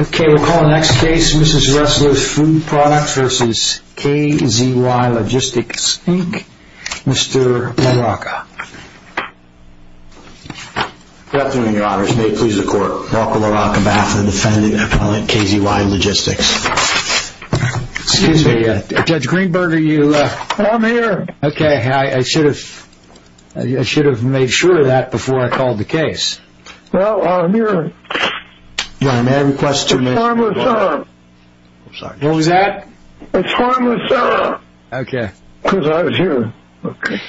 Okay, we'll call the next case, Mrs. Ressler's Food Products vs. KZY Logistics Inc., Mr. LaRocca. Good afternoon, Your Honors. May it please the Court, Ralph LaRocca, on behalf of the defendant, appellant KZY Logistics. Excuse me, Judge Greenberger, you... I'm here. Okay, I should have... I should have made sure of that before I called the case. Well, I'm here. Your Honor, may I request two minutes? It's harmless, Your Honor. I'm sorry. What was that? It's harmless, Your Honor. Okay. Because I was here. Okay.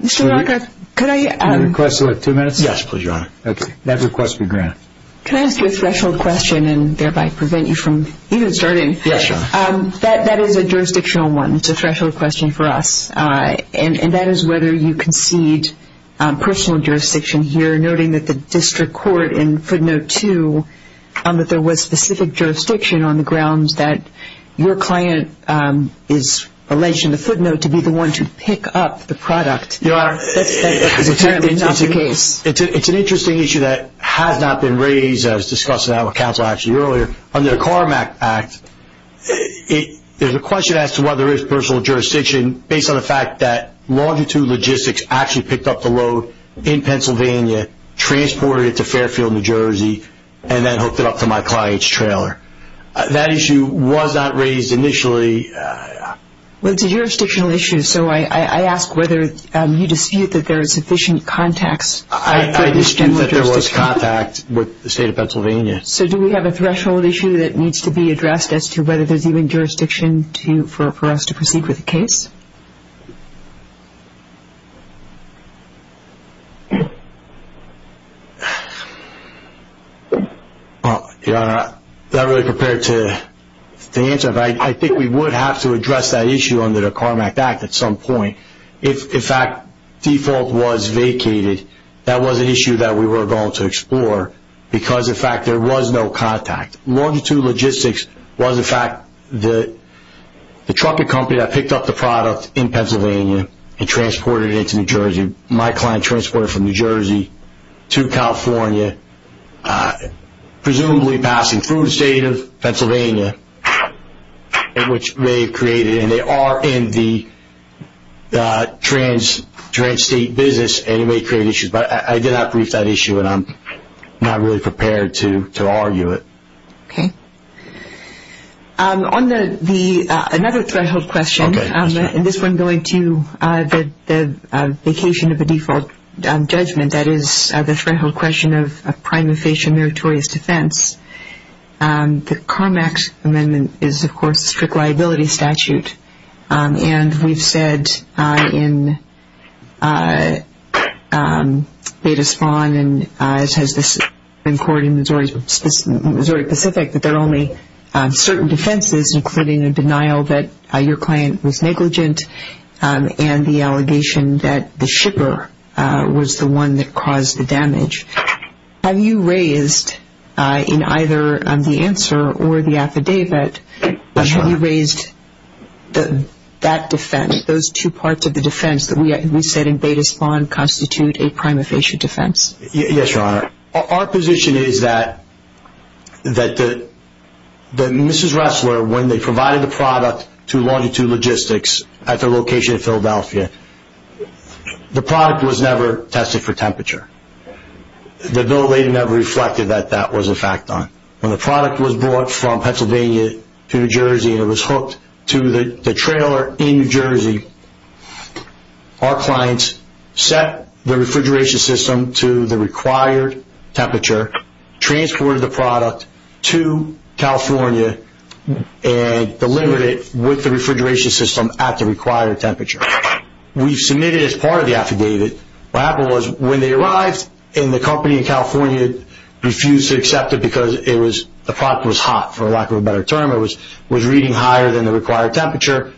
Mr. LaRocca, could I... May I request two minutes? Yes, please, Your Honor. Okay, that request be granted. Can I ask you a threshold question and thereby prevent you from even starting? Yes, Your Honor. That is a jurisdictional one. It's a threshold question for us. And that is whether you concede personal jurisdiction here, noting that the district court in footnote two, that there was specific jurisdiction on the grounds that your client is alleged in the footnote to be the one to pick up the product. Your Honor... That is apparently not the case. It's an interesting issue that has not been raised. I was discussing that with counsel actually earlier. Under the CARMAC Act, there's a question as to whether there is personal jurisdiction based on the fact that Longitude Logistics actually picked up the load in Pennsylvania, transported it to Fairfield, New Jersey, and then hooked it up to my client's trailer. That issue was not raised initially. Well, it's a jurisdictional issue, so I ask whether you dispute that there is sufficient context for this general jurisdiction. I dispute that there was contact with the State of Pennsylvania. So do we have a threshold issue that needs to be addressed as to whether there's even jurisdiction for us to proceed with the case? Your Honor, I'm not really prepared to answer that. I think we would have to address that issue under the CARMAC Act at some point. If, in fact, default was vacated, that was an issue that we were going to explore because, in fact, there was no contact. Longitude Logistics was, in fact, the trucking company that picked up the product in Pennsylvania and transported it to New Jersey. My client transported it from New Jersey to California, presumably passing through the State of Pennsylvania, which may have created, and they are in the trans-state business, and it may create issues. But I did not brief that issue, and I'm not really prepared to argue it. Okay. On another threshold question, and this one going to the vacation of a default judgment, that is the threshold question of prime and facial meritorious defense, the CARMAC amendment is, of course, a strict liability statute. And we've said in Data Spawn and as has the Supreme Court in Missouri Pacific that there are only certain defenses, including a denial that your client was negligent and the allegation that the shipper was the one that caused the damage. Have you raised in either the answer or the affidavit, have you raised that defense, those two parts of the defense that we said in Data Spawn constitute a prime and facial defense? Yes, Your Honor. Our position is that Mrs. Ressler, when they provided the product to Longitude Logistics at their location in Philadelphia, the product was never tested for temperature. The bill later never reflected that that was a fact on it. When the product was brought from Pennsylvania to New Jersey and it was hooked to the trailer in New Jersey, our clients set the refrigeration system to the required temperature, transported the product to California, and delivered it with the refrigeration system at the required temperature. We submitted it as part of the affidavit. What happened was when they arrived and the company in California refused to accept it because the product was hot, for lack of a better term. It was reading higher than the required temperature.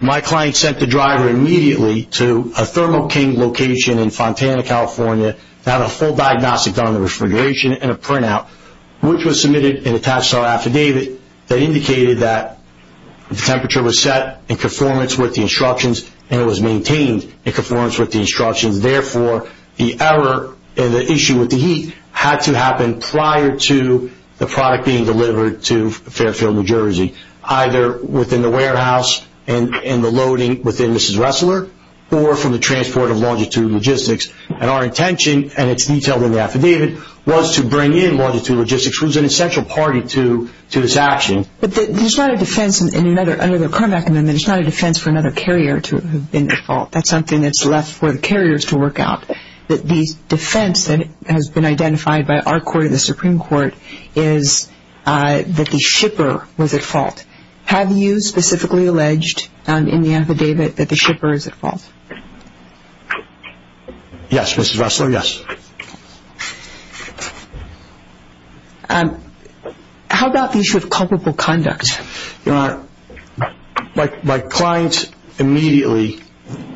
My client sent the driver immediately to a Thermo King location in Fontana, California, to have a full diagnostic done on the refrigeration and a printout, which was submitted and attached to our affidavit that indicated that the temperature was set in conformance with the instructions and it was maintained in conformance with the instructions. Therefore, the error in the issue with the heat had to happen prior to the product being delivered to Fairfield, New Jersey, either within the warehouse and the loading within Mrs. Ressler or from the transport of Longitude Logistics. And our intention, and it's detailed in the affidavit, was to bring in Longitude Logistics, who was an essential party to this action. But there's not a defense under the Kermack Amendment. There's not a defense for another carrier to have been at fault. That's something that's left for the carriers to work out. The defense that has been identified by our court and the Supreme Court is that the shipper was at fault. Have you specifically alleged in the affidavit that the shipper is at fault? Yes, Mrs. Ressler, yes. How about the issue of culpable conduct? Your Honor, my clients immediately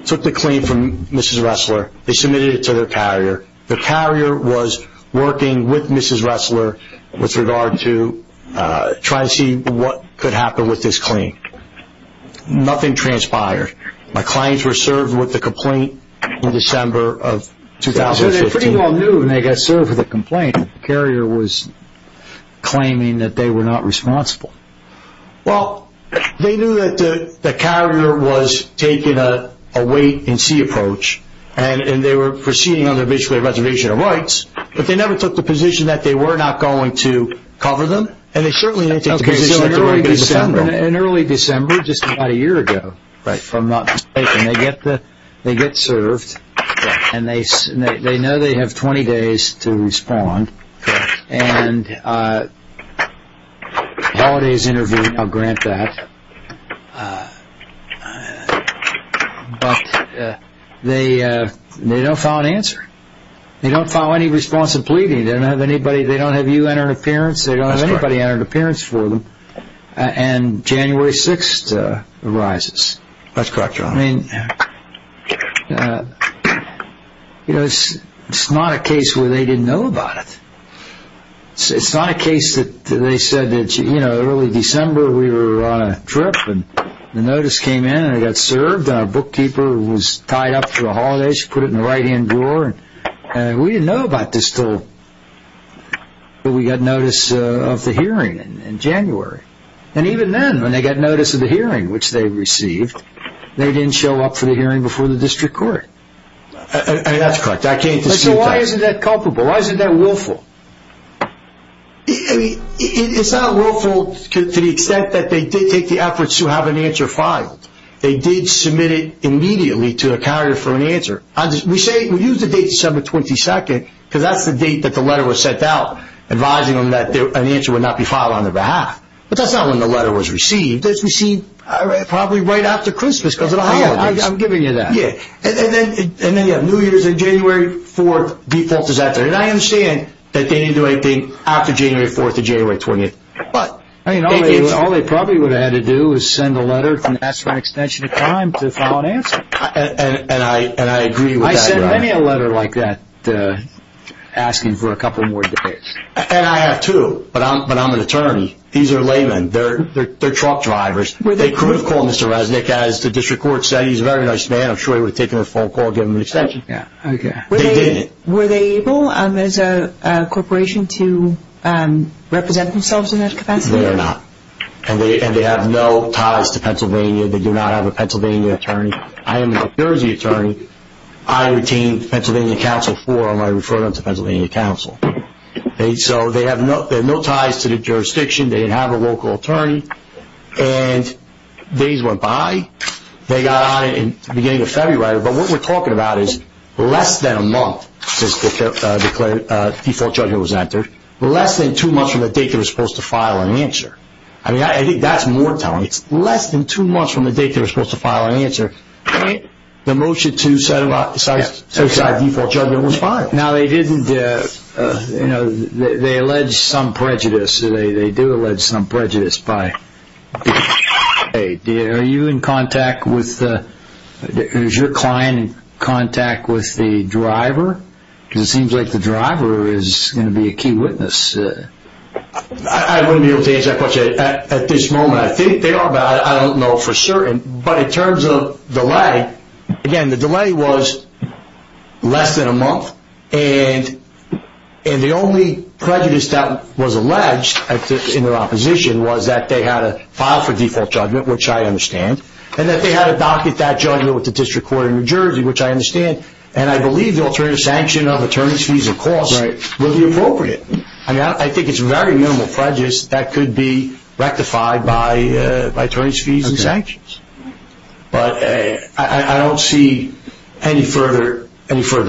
took the claim from Mrs. Ressler. They submitted it to their carrier. Their carrier was working with Mrs. Ressler with regard to trying to see what could happen with this claim. Nothing transpired. My clients were served with a complaint in December of 2015. The carrier was claiming that they were not responsible. Well, they knew that the carrier was taking a wait-and-see approach, and they were proceeding under basically a reservation of rights, but they never took the position that they were not going to cover them, and they certainly didn't take the position that they were going to defend them. Okay, so in early December, just about a year ago from not being taken, they get served, and they know they have 20 days to respond, and Halliday is interviewed, I'll grant that, but they don't file an answer. They don't file any response of pleading. They don't have you enter an appearance. They don't have anybody enter an appearance for them, and January 6th arises. That's correct, John. I mean, you know, it's not a case where they didn't know about it. It's not a case that they said that, you know, early December we were on a trip, and the notice came in, and it got served, and our bookkeeper was tied up for the holidays. She put it in the right-hand drawer. We didn't know about this until we got notice of the hearing in January, and even then when they got notice of the hearing, which they received, they didn't show up for the hearing before the district court. I mean, that's correct. I can't dispute that. So why isn't that culpable? Why isn't that willful? I mean, it's not willful to the extent that they did take the effort to have an answer filed. They did submit it immediately to a carrier for an answer. We say we use the date December 22nd because that's the date that the letter was sent out, advising them that an answer would not be filed on their behalf. But that's not when the letter was received. It was received probably right after Christmas because of the holidays. I'm giving you that. Yeah. And then you have New Year's, and January 4th defaults as after. And I understand that they didn't do anything after January 4th or January 20th. All they probably would have had to do is send a letter and ask for an extension of time to file an answer. And I agree with that. I sent many a letter like that asking for a couple more days. And I have too, but I'm an attorney. These are laymen. They're truck drivers. They could have called Mr. Resnick, as the district court said. He's a very nice man. I'm sure he would have taken a phone call and given him an extension. Yeah, okay. They didn't. Were they able as a corporation to represent themselves in that capacity? They are not. And they have no ties to Pennsylvania. They do not have a Pennsylvania attorney. I am a New Jersey attorney. I retain the Pennsylvania Council forum. I refer them to Pennsylvania Council. So they have no ties to the jurisdiction. They didn't have a local attorney. And days went by. They got on it in the beginning of February. But what we're talking about is less than a month since the declared default judgment was entered, less than two months from the date they were supposed to file an answer. I mean, I think that's more telling. It's less than two months from the date they were supposed to file an answer, and the motion to set aside default judgment was filed. Now, they didn't, you know, they allege some prejudice. They do allege some prejudice. Are you in contact with, is your client in contact with the driver? Because it seems like the driver is going to be a key witness. I wouldn't be able to answer that question at this moment. I think they are, but I don't know for certain. But in terms of delay, again, the delay was less than a month. And the only prejudice that was alleged in their opposition was that they had to file for default judgment, which I understand, and that they had to docket that judgment with the district court in New Jersey, which I understand. And I believe the alternative sanction of attorney's fees and costs would be appropriate. I mean, I think it's very minimal prejudice that could be rectified by attorney's fees and sanctions. But I don't see any further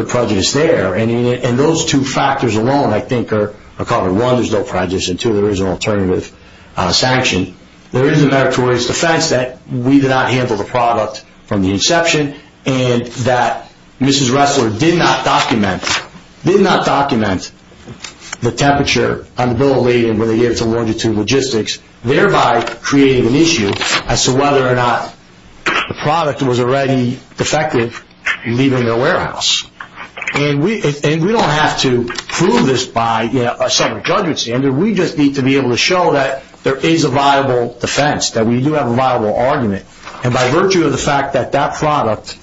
prejudice there. And those two factors alone, I think, are covered. One, there's no prejudice, and two, there is an alternative sanction. There is a meritorious defense that we did not handle the product from the inception and that Mrs. Ressler did not document the temperature on the bill of lading when they gave it to Longitude Logistics, thereby creating an issue as to whether or not the product was already defective leaving their warehouse. And we don't have to prove this by a separate judgment standard. We just need to be able to show that there is a viable defense, that we do have a viable argument. And by virtue of the fact that that product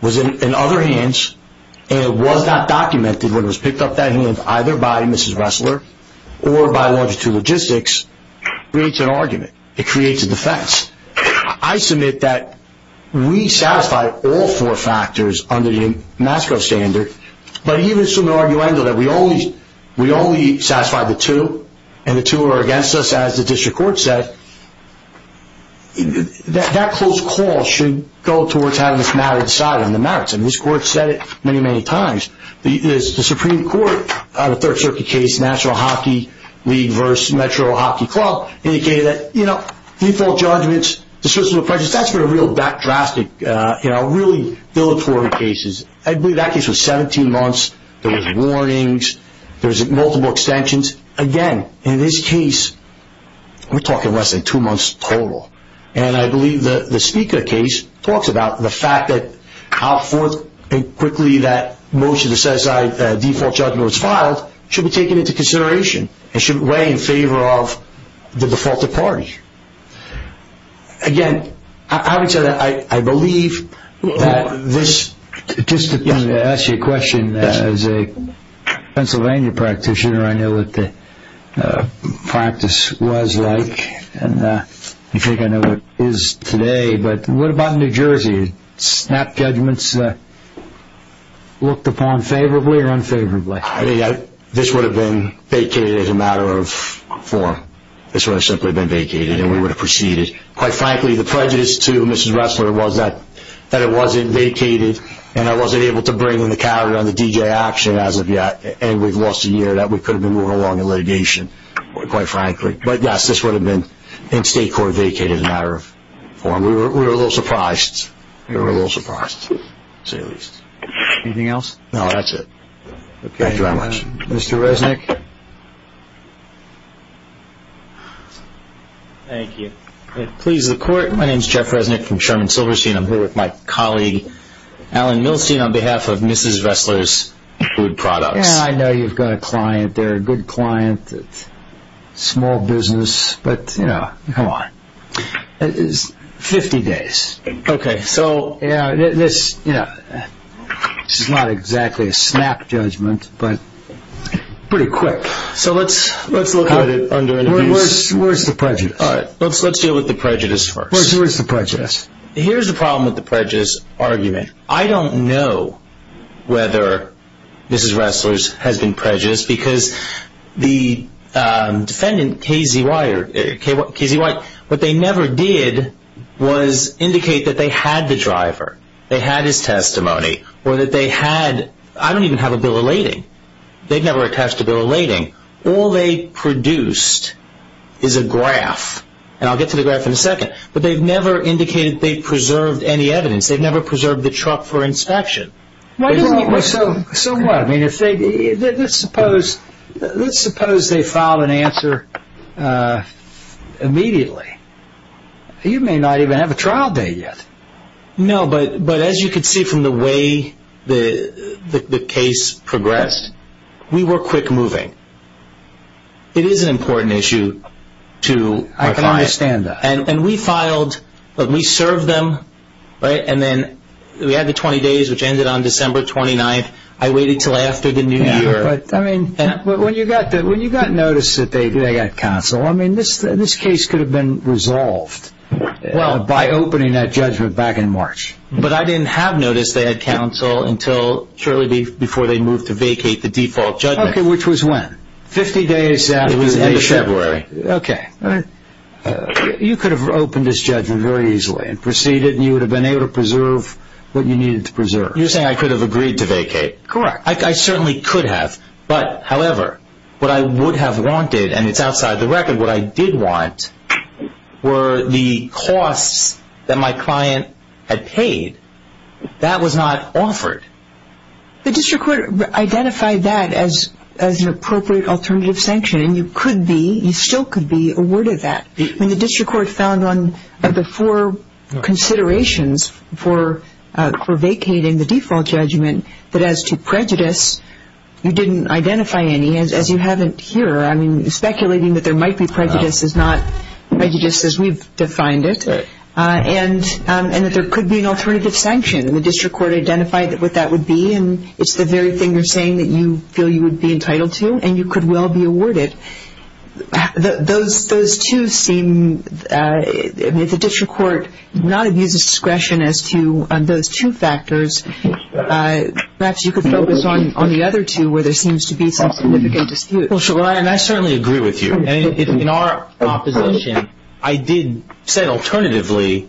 was in other hands and it was not documented when it was picked up that hand either by Mrs. Ressler or by Longitude Logistics, it creates an argument. It creates a defense. I submit that we satisfy all four factors under the MASCO standard, but even some argument that we only satisfy the two, and the two are against us, as the district court said, that close call should go towards having this matter decided on the merits. And this court said it many, many times. The Supreme Court, the Third Circuit case, National Hockey League versus Metro Hockey Club, indicated that default judgments, dismissal of prejudice, that's been a real drastic, really villatory cases. I believe that case was 17 months. There were warnings. There were multiple extensions. Again, in this case, we're talking less than two months total. And I believe the Speaker case talks about the fact that how forth and quickly that most of the set-aside default judgment was filed should be taken into consideration and should weigh in favor of the defaulted party. Again, having said that, I believe that this- I wanted to ask you a question. As a Pennsylvania practitioner, I know what the practice was like, and I think I know what it is today. But what about New Jersey? Snap judgments looked upon favorably or unfavorably? I think this would have been vacated as a matter of form. This would have simply been vacated, and we would have proceeded. Quite frankly, the prejudice to Mrs. Ressler was that it wasn't vacated, and I wasn't able to bring in the coward on the DJ action as of yet, and we've lost a year that we could have been moving along in litigation, quite frankly. But yes, this would have been in state court vacated as a matter of form. We were a little surprised. We were a little surprised, to say the least. Anything else? No, that's it. Thank you very much. Mr. Resnick? Thank you. Please, the court. My name is Jeff Resnick from Sherman Silverstein. I'm here with my colleague, Alan Milstein, on behalf of Mrs. Ressler's Food Products. I know you've got a client there, a good client, small business. But, you know, come on, 50 days. Okay, so this is not exactly a snap judgment, but pretty quick. So let's look at it under interviews. Where's the prejudice? All right, let's deal with the prejudice first. Where's the prejudice? Here's the problem with the prejudice argument. I don't know whether Mrs. Ressler's has been prejudiced, because the defendant, Casey White, what they never did was indicate that they had the driver, they had his testimony, or that they had, I don't even have a bill of lading. They've never attached a bill of lading. All they produced is a graph, and I'll get to the graph in a second, but they've never indicated they've preserved any evidence. They've never preserved the truck for inspection. So what? I mean, let's suppose they filed an answer immediately. You may not even have a trial date yet. No, but as you can see from the way the case progressed, we were quick moving. It is an important issue to our client. I can understand that. And we filed, we served them, and then we had the 20 days, which ended on December 29th. I waited until after the New Year. Yeah, but I mean, when you got notice that they had counsel, I mean, this case could have been resolved by opening that judgment back in March. But I didn't have notice they had counsel until shortly before they moved to vacate the default judgment. Okay, which was when? Fifty days after the end of February. Okay. You could have opened this judgment very easily and proceeded, and you would have been able to preserve what you needed to preserve. You're saying I could have agreed to vacate. Correct. I certainly could have. But, however, what I would have wanted, and it's outside the record, what I did want were the costs that my client had paid. That was not offered. The district court identified that as an appropriate alternative sanction, and you could be, you still could be, awarded that. I mean, the district court found on the four considerations for vacating the default judgment that as to prejudice, you didn't identify any, as you haven't here. I mean, speculating that there might be prejudice is not prejudice as we've defined it, and that there could be an alternative sanction. And the district court identified what that would be, and it's the very thing you're saying that you feel you would be entitled to, and you could well be awarded. Those two seem, if the district court not abuses discretion as to those two factors, perhaps you could focus on the other two where there seems to be some significant dispute. Well, I certainly agree with you. In our opposition, I did say alternatively,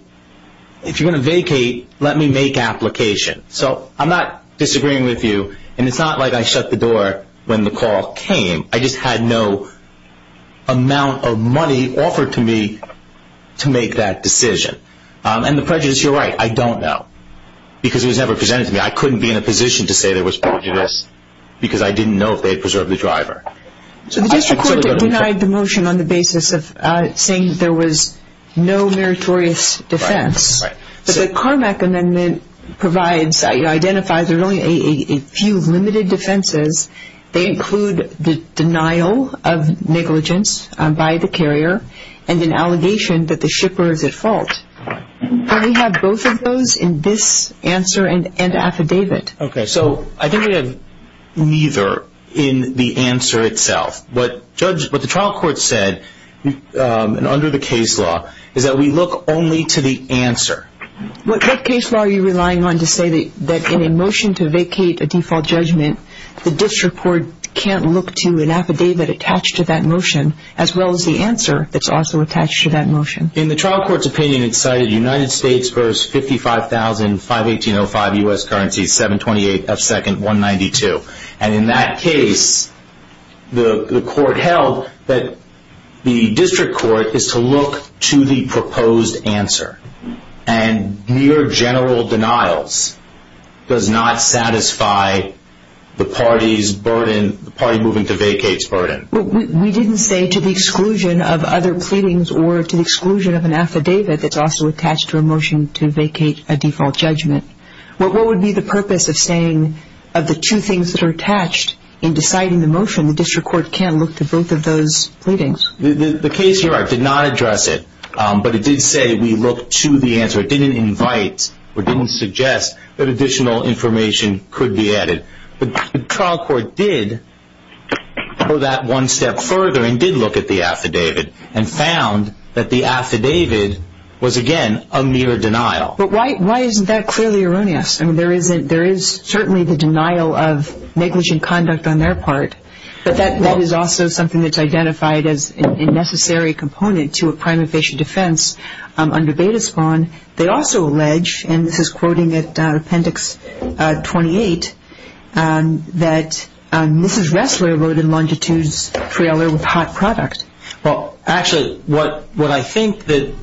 if you're going to vacate, let me make application. So I'm not disagreeing with you, and it's not like I shut the door when the call came. I just had no amount of money offered to me to make that decision. And the prejudice, you're right, I don't know, because it was never presented to me. I couldn't be in a position to say there was prejudice, because I didn't know if they had preserved the driver. So the district court denied the motion on the basis of saying there was no meritorious defense. But the Carmack amendment provides, identifies there's only a few limited defenses. They include the denial of negligence by the carrier and an allegation that the shipper is at fault. Do we have both of those in this answer and affidavit? Okay. So I think we have neither in the answer itself. What the trial court said under the case law is that we look only to the answer. What case law are you relying on to say that in a motion to vacate a default judgment, the district court can't look to an affidavit attached to that motion, as well as the answer that's also attached to that motion? In the trial court's opinion, it cited United States v. 55,000, 518.05 U.S. Currency, 728 F. Second, 192. And in that case, the court held that the district court is to look to the proposed answer. And mere general denials does not satisfy the party's burden, the party moving to vacate's burden. We didn't say to the exclusion of other pleadings or to the exclusion of an affidavit that's also attached to a motion to vacate a default judgment. What would be the purpose of saying of the two things that are attached in deciding the motion, the district court can't look to both of those pleadings? The case here, I did not address it, but it did say we look to the answer. It didn't invite or didn't suggest that additional information could be added. The trial court did go that one step further and did look at the affidavit and found that the affidavit was, again, a mere denial. But why isn't that clearly erroneous? I mean, there is certainly the denial of negligent conduct on their part, but that is also something that's identified as a necessary component to a prime evasion defense under beta spawn. They also allege, and this is quoting at Appendix 28, that Mrs. Ressler wrote in Longitude's trailer with hot product. Well, actually, what I think that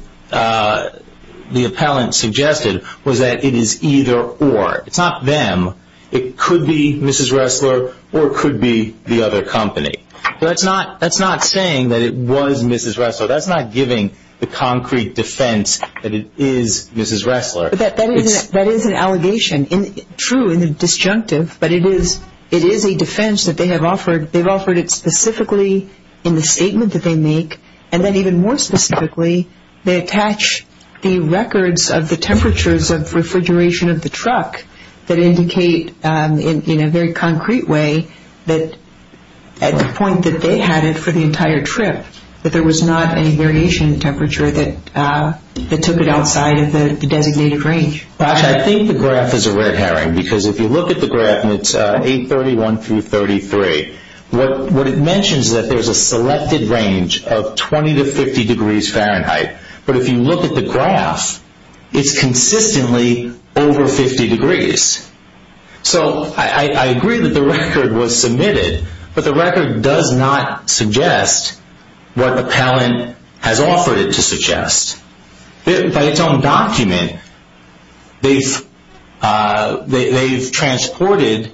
the appellant suggested was that it is either or. It's not them. It could be Mrs. Ressler or it could be the other company. That's not saying that it was Mrs. Ressler. That's not giving the concrete defense that it is Mrs. Ressler. That is an allegation, true and disjunctive, but it is a defense that they have offered. They've offered it specifically in the statement that they make, and then even more specifically, they attach the records of the temperatures of refrigeration of the truck that indicate in a very concrete way that at the point that they had it for the entire trip, that there was not any variation in temperature that took it outside of the designated range. I think the graph is a red herring because if you look at the graph and it's 831 through 33, what it mentions is that there's a selected range of 20 to 50 degrees Fahrenheit, but if you look at the graph, it's consistently over 50 degrees. So I agree that the record was submitted, but the record does not suggest what the appellant has offered it to suggest. By its own document, they've transported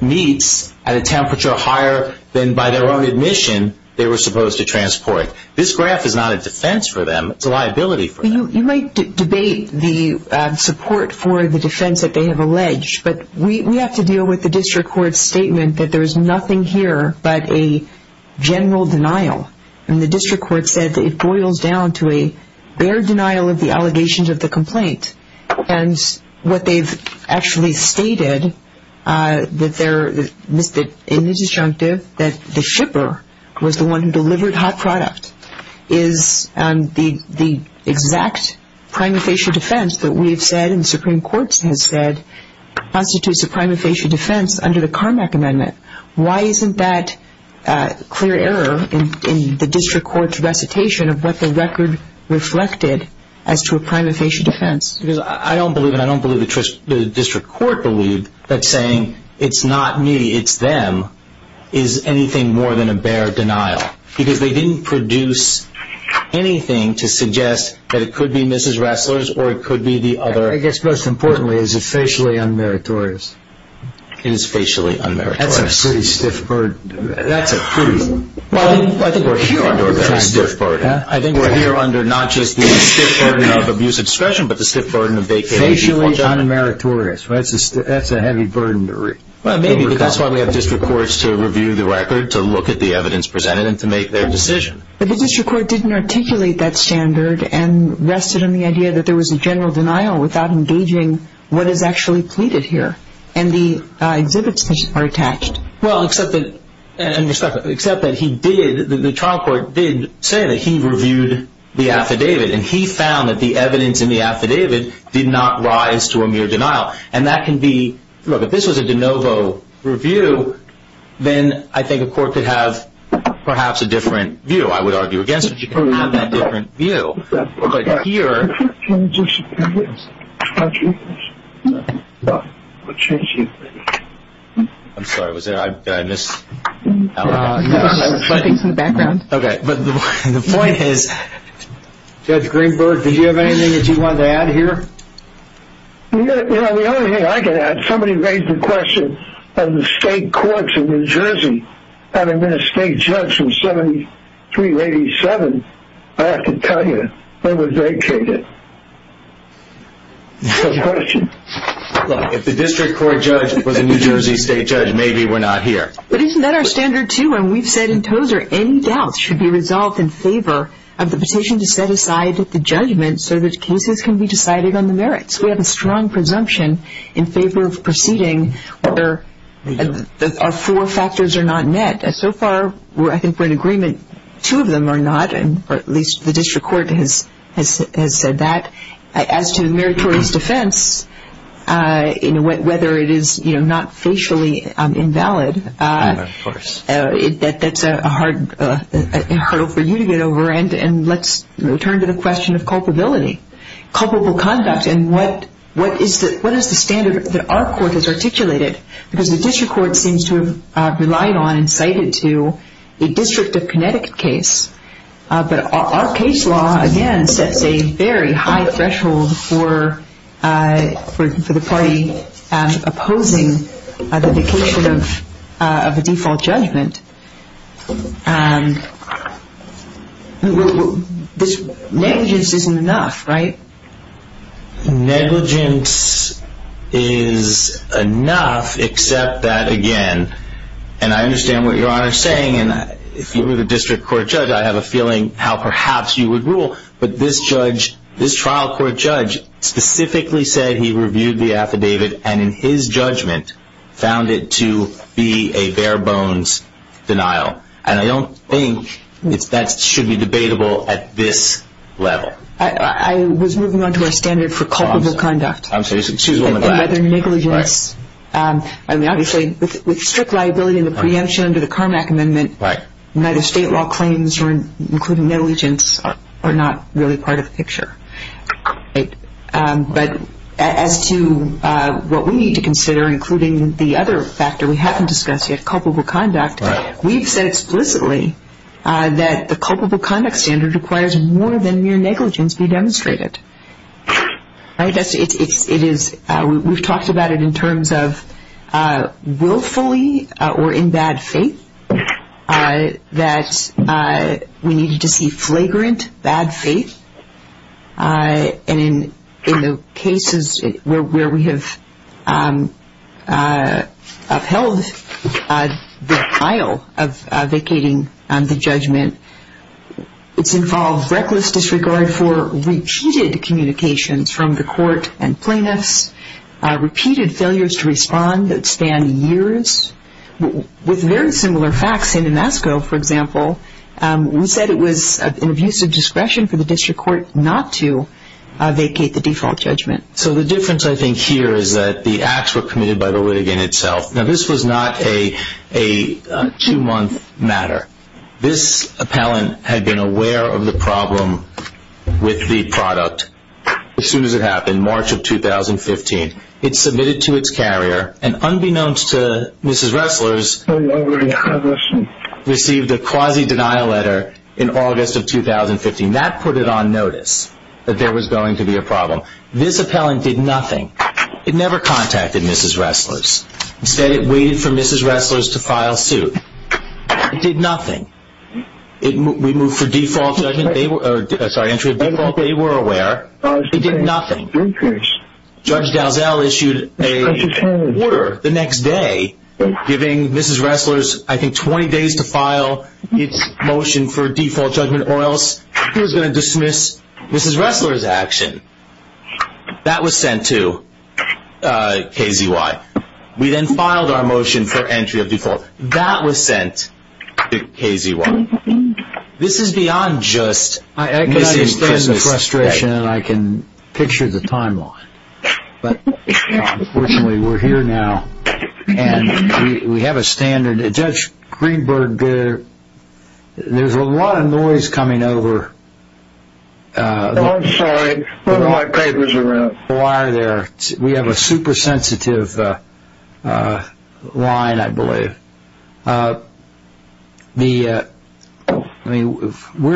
meats at a temperature higher than by their own admission they were supposed to transport. This graph is not a defense for them. It's a liability for them. You might debate the support for the defense that they have alleged, but we have to deal with the district court's statement that there is nothing here but a general denial, and the district court said that it boils down to a bare denial of the allegations of the complaint, and what they've actually stated in the disjunctive that the shipper was the one who delivered hot product is the exact prima facie defense that we've said and the Supreme Court has said constitutes a prima facie defense under the Carmack Amendment. Why isn't that clear error in the district court's recitation of what the record reflected as to a prima facie defense? Because I don't believe, and I don't believe the district court believed that saying, it's not me, it's them, is anything more than a bare denial because they didn't produce anything to suggest that it could be Mrs. Ressler's or it could be the other. I guess most importantly, is it facially unmeritorious? It is facially unmeritorious. That's a pretty stiff burden. That's a pretty stiff burden. I think we're here under not just the stiff burden of abuse of discretion, but the stiff burden of vacated default. Facially unmeritorious, that's a heavy burden to recall. Well, maybe, but that's why we have district courts to review the record, to look at the evidence presented, and to make their decision. But the district court didn't articulate that standard and rested on the idea that there was a general denial without engaging what is actually pleaded here. And the exhibits are attached. Well, except that he did, the trial court did say that he reviewed the affidavit, and he found that the evidence in the affidavit did not rise to a mere denial. And that can be, look, if this was a de novo review, then I think a court could have perhaps a different view, I would argue, against which you can have that different view. But here. Can you just, thank you. I'm sorry, was there, did I miss? No. It's in the background. Okay. But the point is, Judge Greenberg, did you have anything that you wanted to add here? You know, the only thing I can add, somebody raised the question of the state courts in New Jersey having been a state judge since 73, 87. I have to tell you, I was vacated. Good question. Look, if the district court judge was a New Jersey state judge, maybe we're not here. But isn't that our standard, too? And we've said in Tozer, any doubts should be resolved in favor of the petition to set aside the judgment so that cases can be decided on the merits. We have a strong presumption in favor of proceeding where our four factors are not met. So far, I think we're in agreement two of them are not, or at least the district court has said that. As to meritorious defense, whether it is not facially invalid, that's a hurdle for you to get over. And let's return to the question of culpability. Culpable conduct, and what is the standard that our court has articulated? Because the district court seems to have relied on and cited to a District of Connecticut case. But our case law, again, sets a very high threshold for the party opposing the vacation of a default judgment. Negligence isn't enough, right? Negligence is enough, except that, again, and I understand what Your Honor is saying, and if you were the district court judge, I have a feeling how perhaps you would rule, but this trial court judge specifically said he reviewed the affidavit, and in his judgment found it to be a bare bones denial. And I don't think that should be debatable at this level. I was moving on to our standard for culpable conduct. I'm sorry, excuse me. And whether negligence, I mean, obviously, with strict liability in the preemption under the Carmack Amendment, neither state law claims, including negligence, are not really part of the picture. But as to what we need to consider, including the other factor we haven't discussed yet, culpable conduct, we've said explicitly that the culpable conduct standard requires more than mere negligence be demonstrated. It is, we've talked about it in terms of willfully or in bad faith, that we need to see flagrant bad faith. And in the cases where we have upheld the file of vacating the judgment, it's involved reckless disregard for repeated communications from the court and plaintiffs, repeated failures to respond that span years. With very similar facts in Damasco, for example, we said it was an abuse of discretion for the district court not to vacate the default judgment. So the difference, I think, here is that the acts were committed by the litigant itself. Now, this was not a two-month matter. This appellant had been aware of the problem with the product. As soon as it happened, March of 2015, it submitted to its carrier, and unbeknownst to Mrs. Ressler's, received a quasi-denial letter in August of 2015. That put it on notice that there was going to be a problem. This appellant did nothing. It never contacted Mrs. Ressler's. Instead, it waited for Mrs. Ressler's to file suit. It did nothing. We moved for entry of default. They were aware. It did nothing. Judge Dalzell issued an order the next day, giving Mrs. Ressler's, I think, 20 days to file its motion for default judgment, or else he was going to dismiss Mrs. Ressler's action. That was sent to KZY. We then filed our motion for entry of default. That was sent to KZY. This is beyond just Mrs. Ressler's. I can understand the frustration, and I can picture the timeline. But, unfortunately, we're here now, and we have a standard. Judge Greenberg, there's a lot of noise coming over. I'm sorry. One of my papers are out. We have a super sensitive line, I believe. We're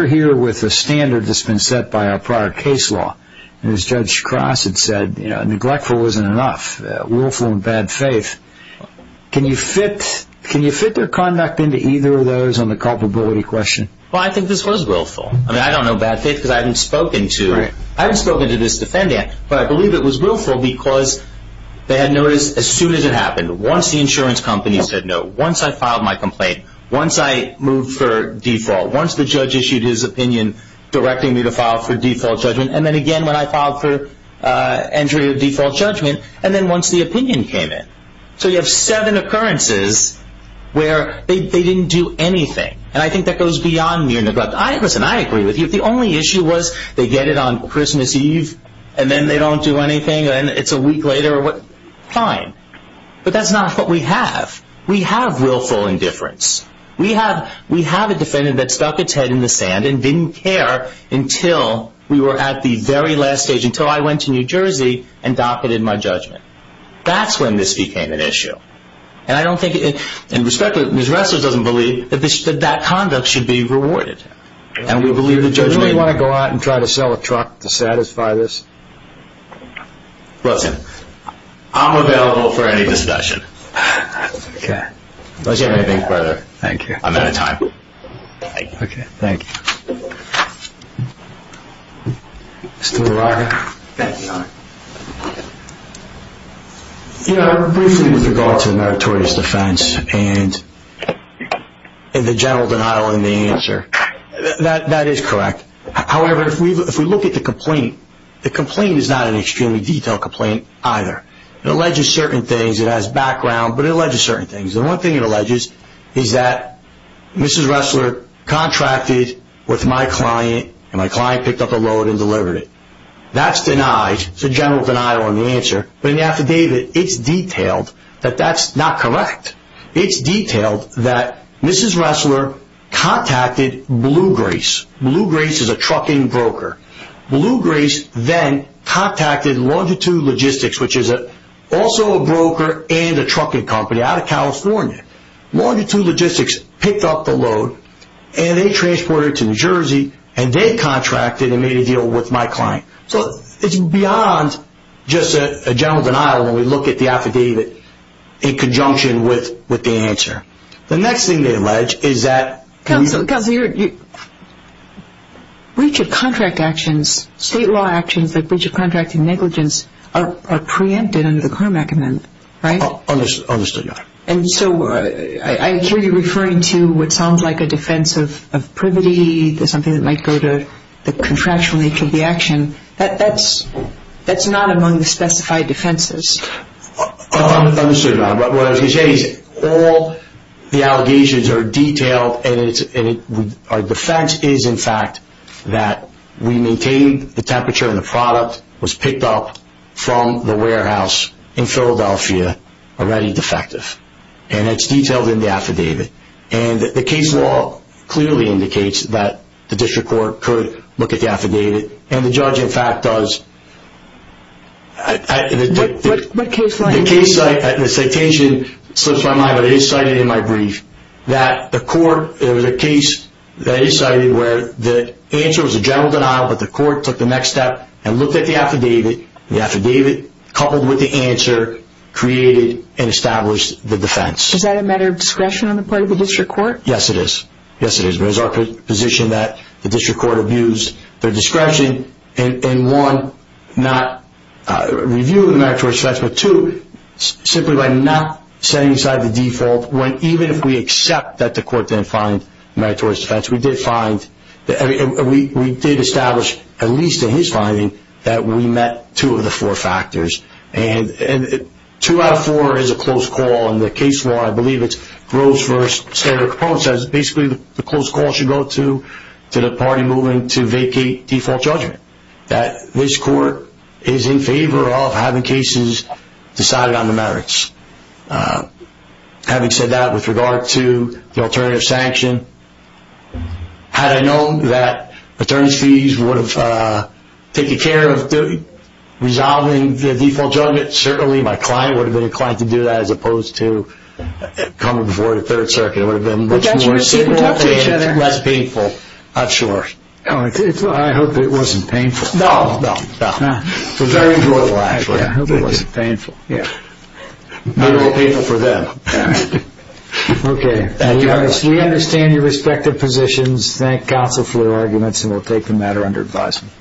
here with a standard that's been set by our prior case law. As Judge Cross had said, neglectful isn't enough. Willful and bad faith. Can you fit their conduct into either of those on the culpability question? Well, I think this was willful. I don't know bad faith because I haven't spoken to this defendant. But I believe it was willful because they had noticed as soon as it happened, once the insurance company said no, once I filed my complaint, once I moved for default, once the judge issued his opinion, directing me to file for default judgment, and then again when I filed for entry of default judgment, and then once the opinion came in. So you have seven occurrences where they didn't do anything. And I think that goes beyond mere neglect. Listen, I agree with you. If the only issue was they get it on Christmas Eve and then they don't do anything and it's a week later, fine. But that's not what we have. We have willful indifference. We have a defendant that stuck its head in the sand and didn't care until we were at the very last stage, until I went to New Jersey and docketed my judgment. That's when this became an issue. And I don't think, and respectfully, Ms. Ressler doesn't believe that that conduct should be rewarded. Do you really want to go out and try to sell a truck to satisfy this? Listen, I'm available for any discussion. Okay. Let's hear anything further. Thank you. I'm out of time. Okay. Thank you. Mr. LaRocca. Thank you, Your Honor. You know, briefly with regard to meritorious defense and the general denial in the answer, that is correct. However, if we look at the complaint, the complaint is not an extremely detailed complaint either. It alleges certain things. It has background, but it alleges certain things. The one thing it alleges is that Mrs. Ressler contracted with my client and my client picked up the load and delivered it. That's denied. It's a general denial in the answer. But in the affidavit, it's detailed that that's not correct. It's detailed that Mrs. Ressler contacted Blue Grace. Blue Grace is a trucking broker. Blue Grace then contacted Longitude Logistics, which is also a broker and a trucking company out of California. Longitude Logistics picked up the load, and they transported it to New Jersey, and they contracted and made a deal with my client. So it's beyond just a general denial when we look at the affidavit in conjunction with the answer. The next thing they allege is that we – Counselor, you're – breach of contract actions, state law actions like breach of contract and negligence are preempted under the Carmack Amendment, right? Understood, Your Honor. And so I hear you referring to what sounds like a defense of privity, something that might go to the contractual nature of the action. That's not among the specified defenses. Understood, Your Honor. What I was going to say is all the allegations are detailed, and our defense is, in fact, that we maintained the temperature and the product was picked up from the warehouse in Philadelphia, already defective. And it's detailed in the affidavit. And the case law clearly indicates that the district court could look at the affidavit. And the judge, in fact, does. What case law? The case – the citation slips my mind, but it is cited in my brief, that the court – there was a case that is cited where the answer was a general denial, but the court took the next step and looked at the affidavit. The affidavit, coupled with the answer, created and established the defense. Is that a matter of discretion on the part of the district court? Yes, it is. Yes, it is. But it's our position that the district court abused their discretion in, one, not reviewing the meritorious defense, but, two, simply by not setting aside the default, when even if we accept that the court didn't find meritorious defense, we did find – we did establish, at least in his finding, that we met two of the four factors. And two out of four is a close call. In the case law, I believe it's Groves v. Senator Capone, says basically the close call should go to the party moving to vacate default judgment, that this court is in favor of having cases decided on the merits. Having said that, with regard to the alternative sanction, had I known that attorney's fees would have taken care of resolving the default judgment, certainly my client would have been inclined to do that, as opposed to coming before the Third Circuit. It would have been much more simple and less painful, I'm sure. I hope it wasn't painful. No, no, no. It was very enjoyable, actually. I hope it wasn't painful, yeah. A little painful for them. Okay. We understand your respective positions. Thank counsel for your arguments, and we'll take the matter under advisement.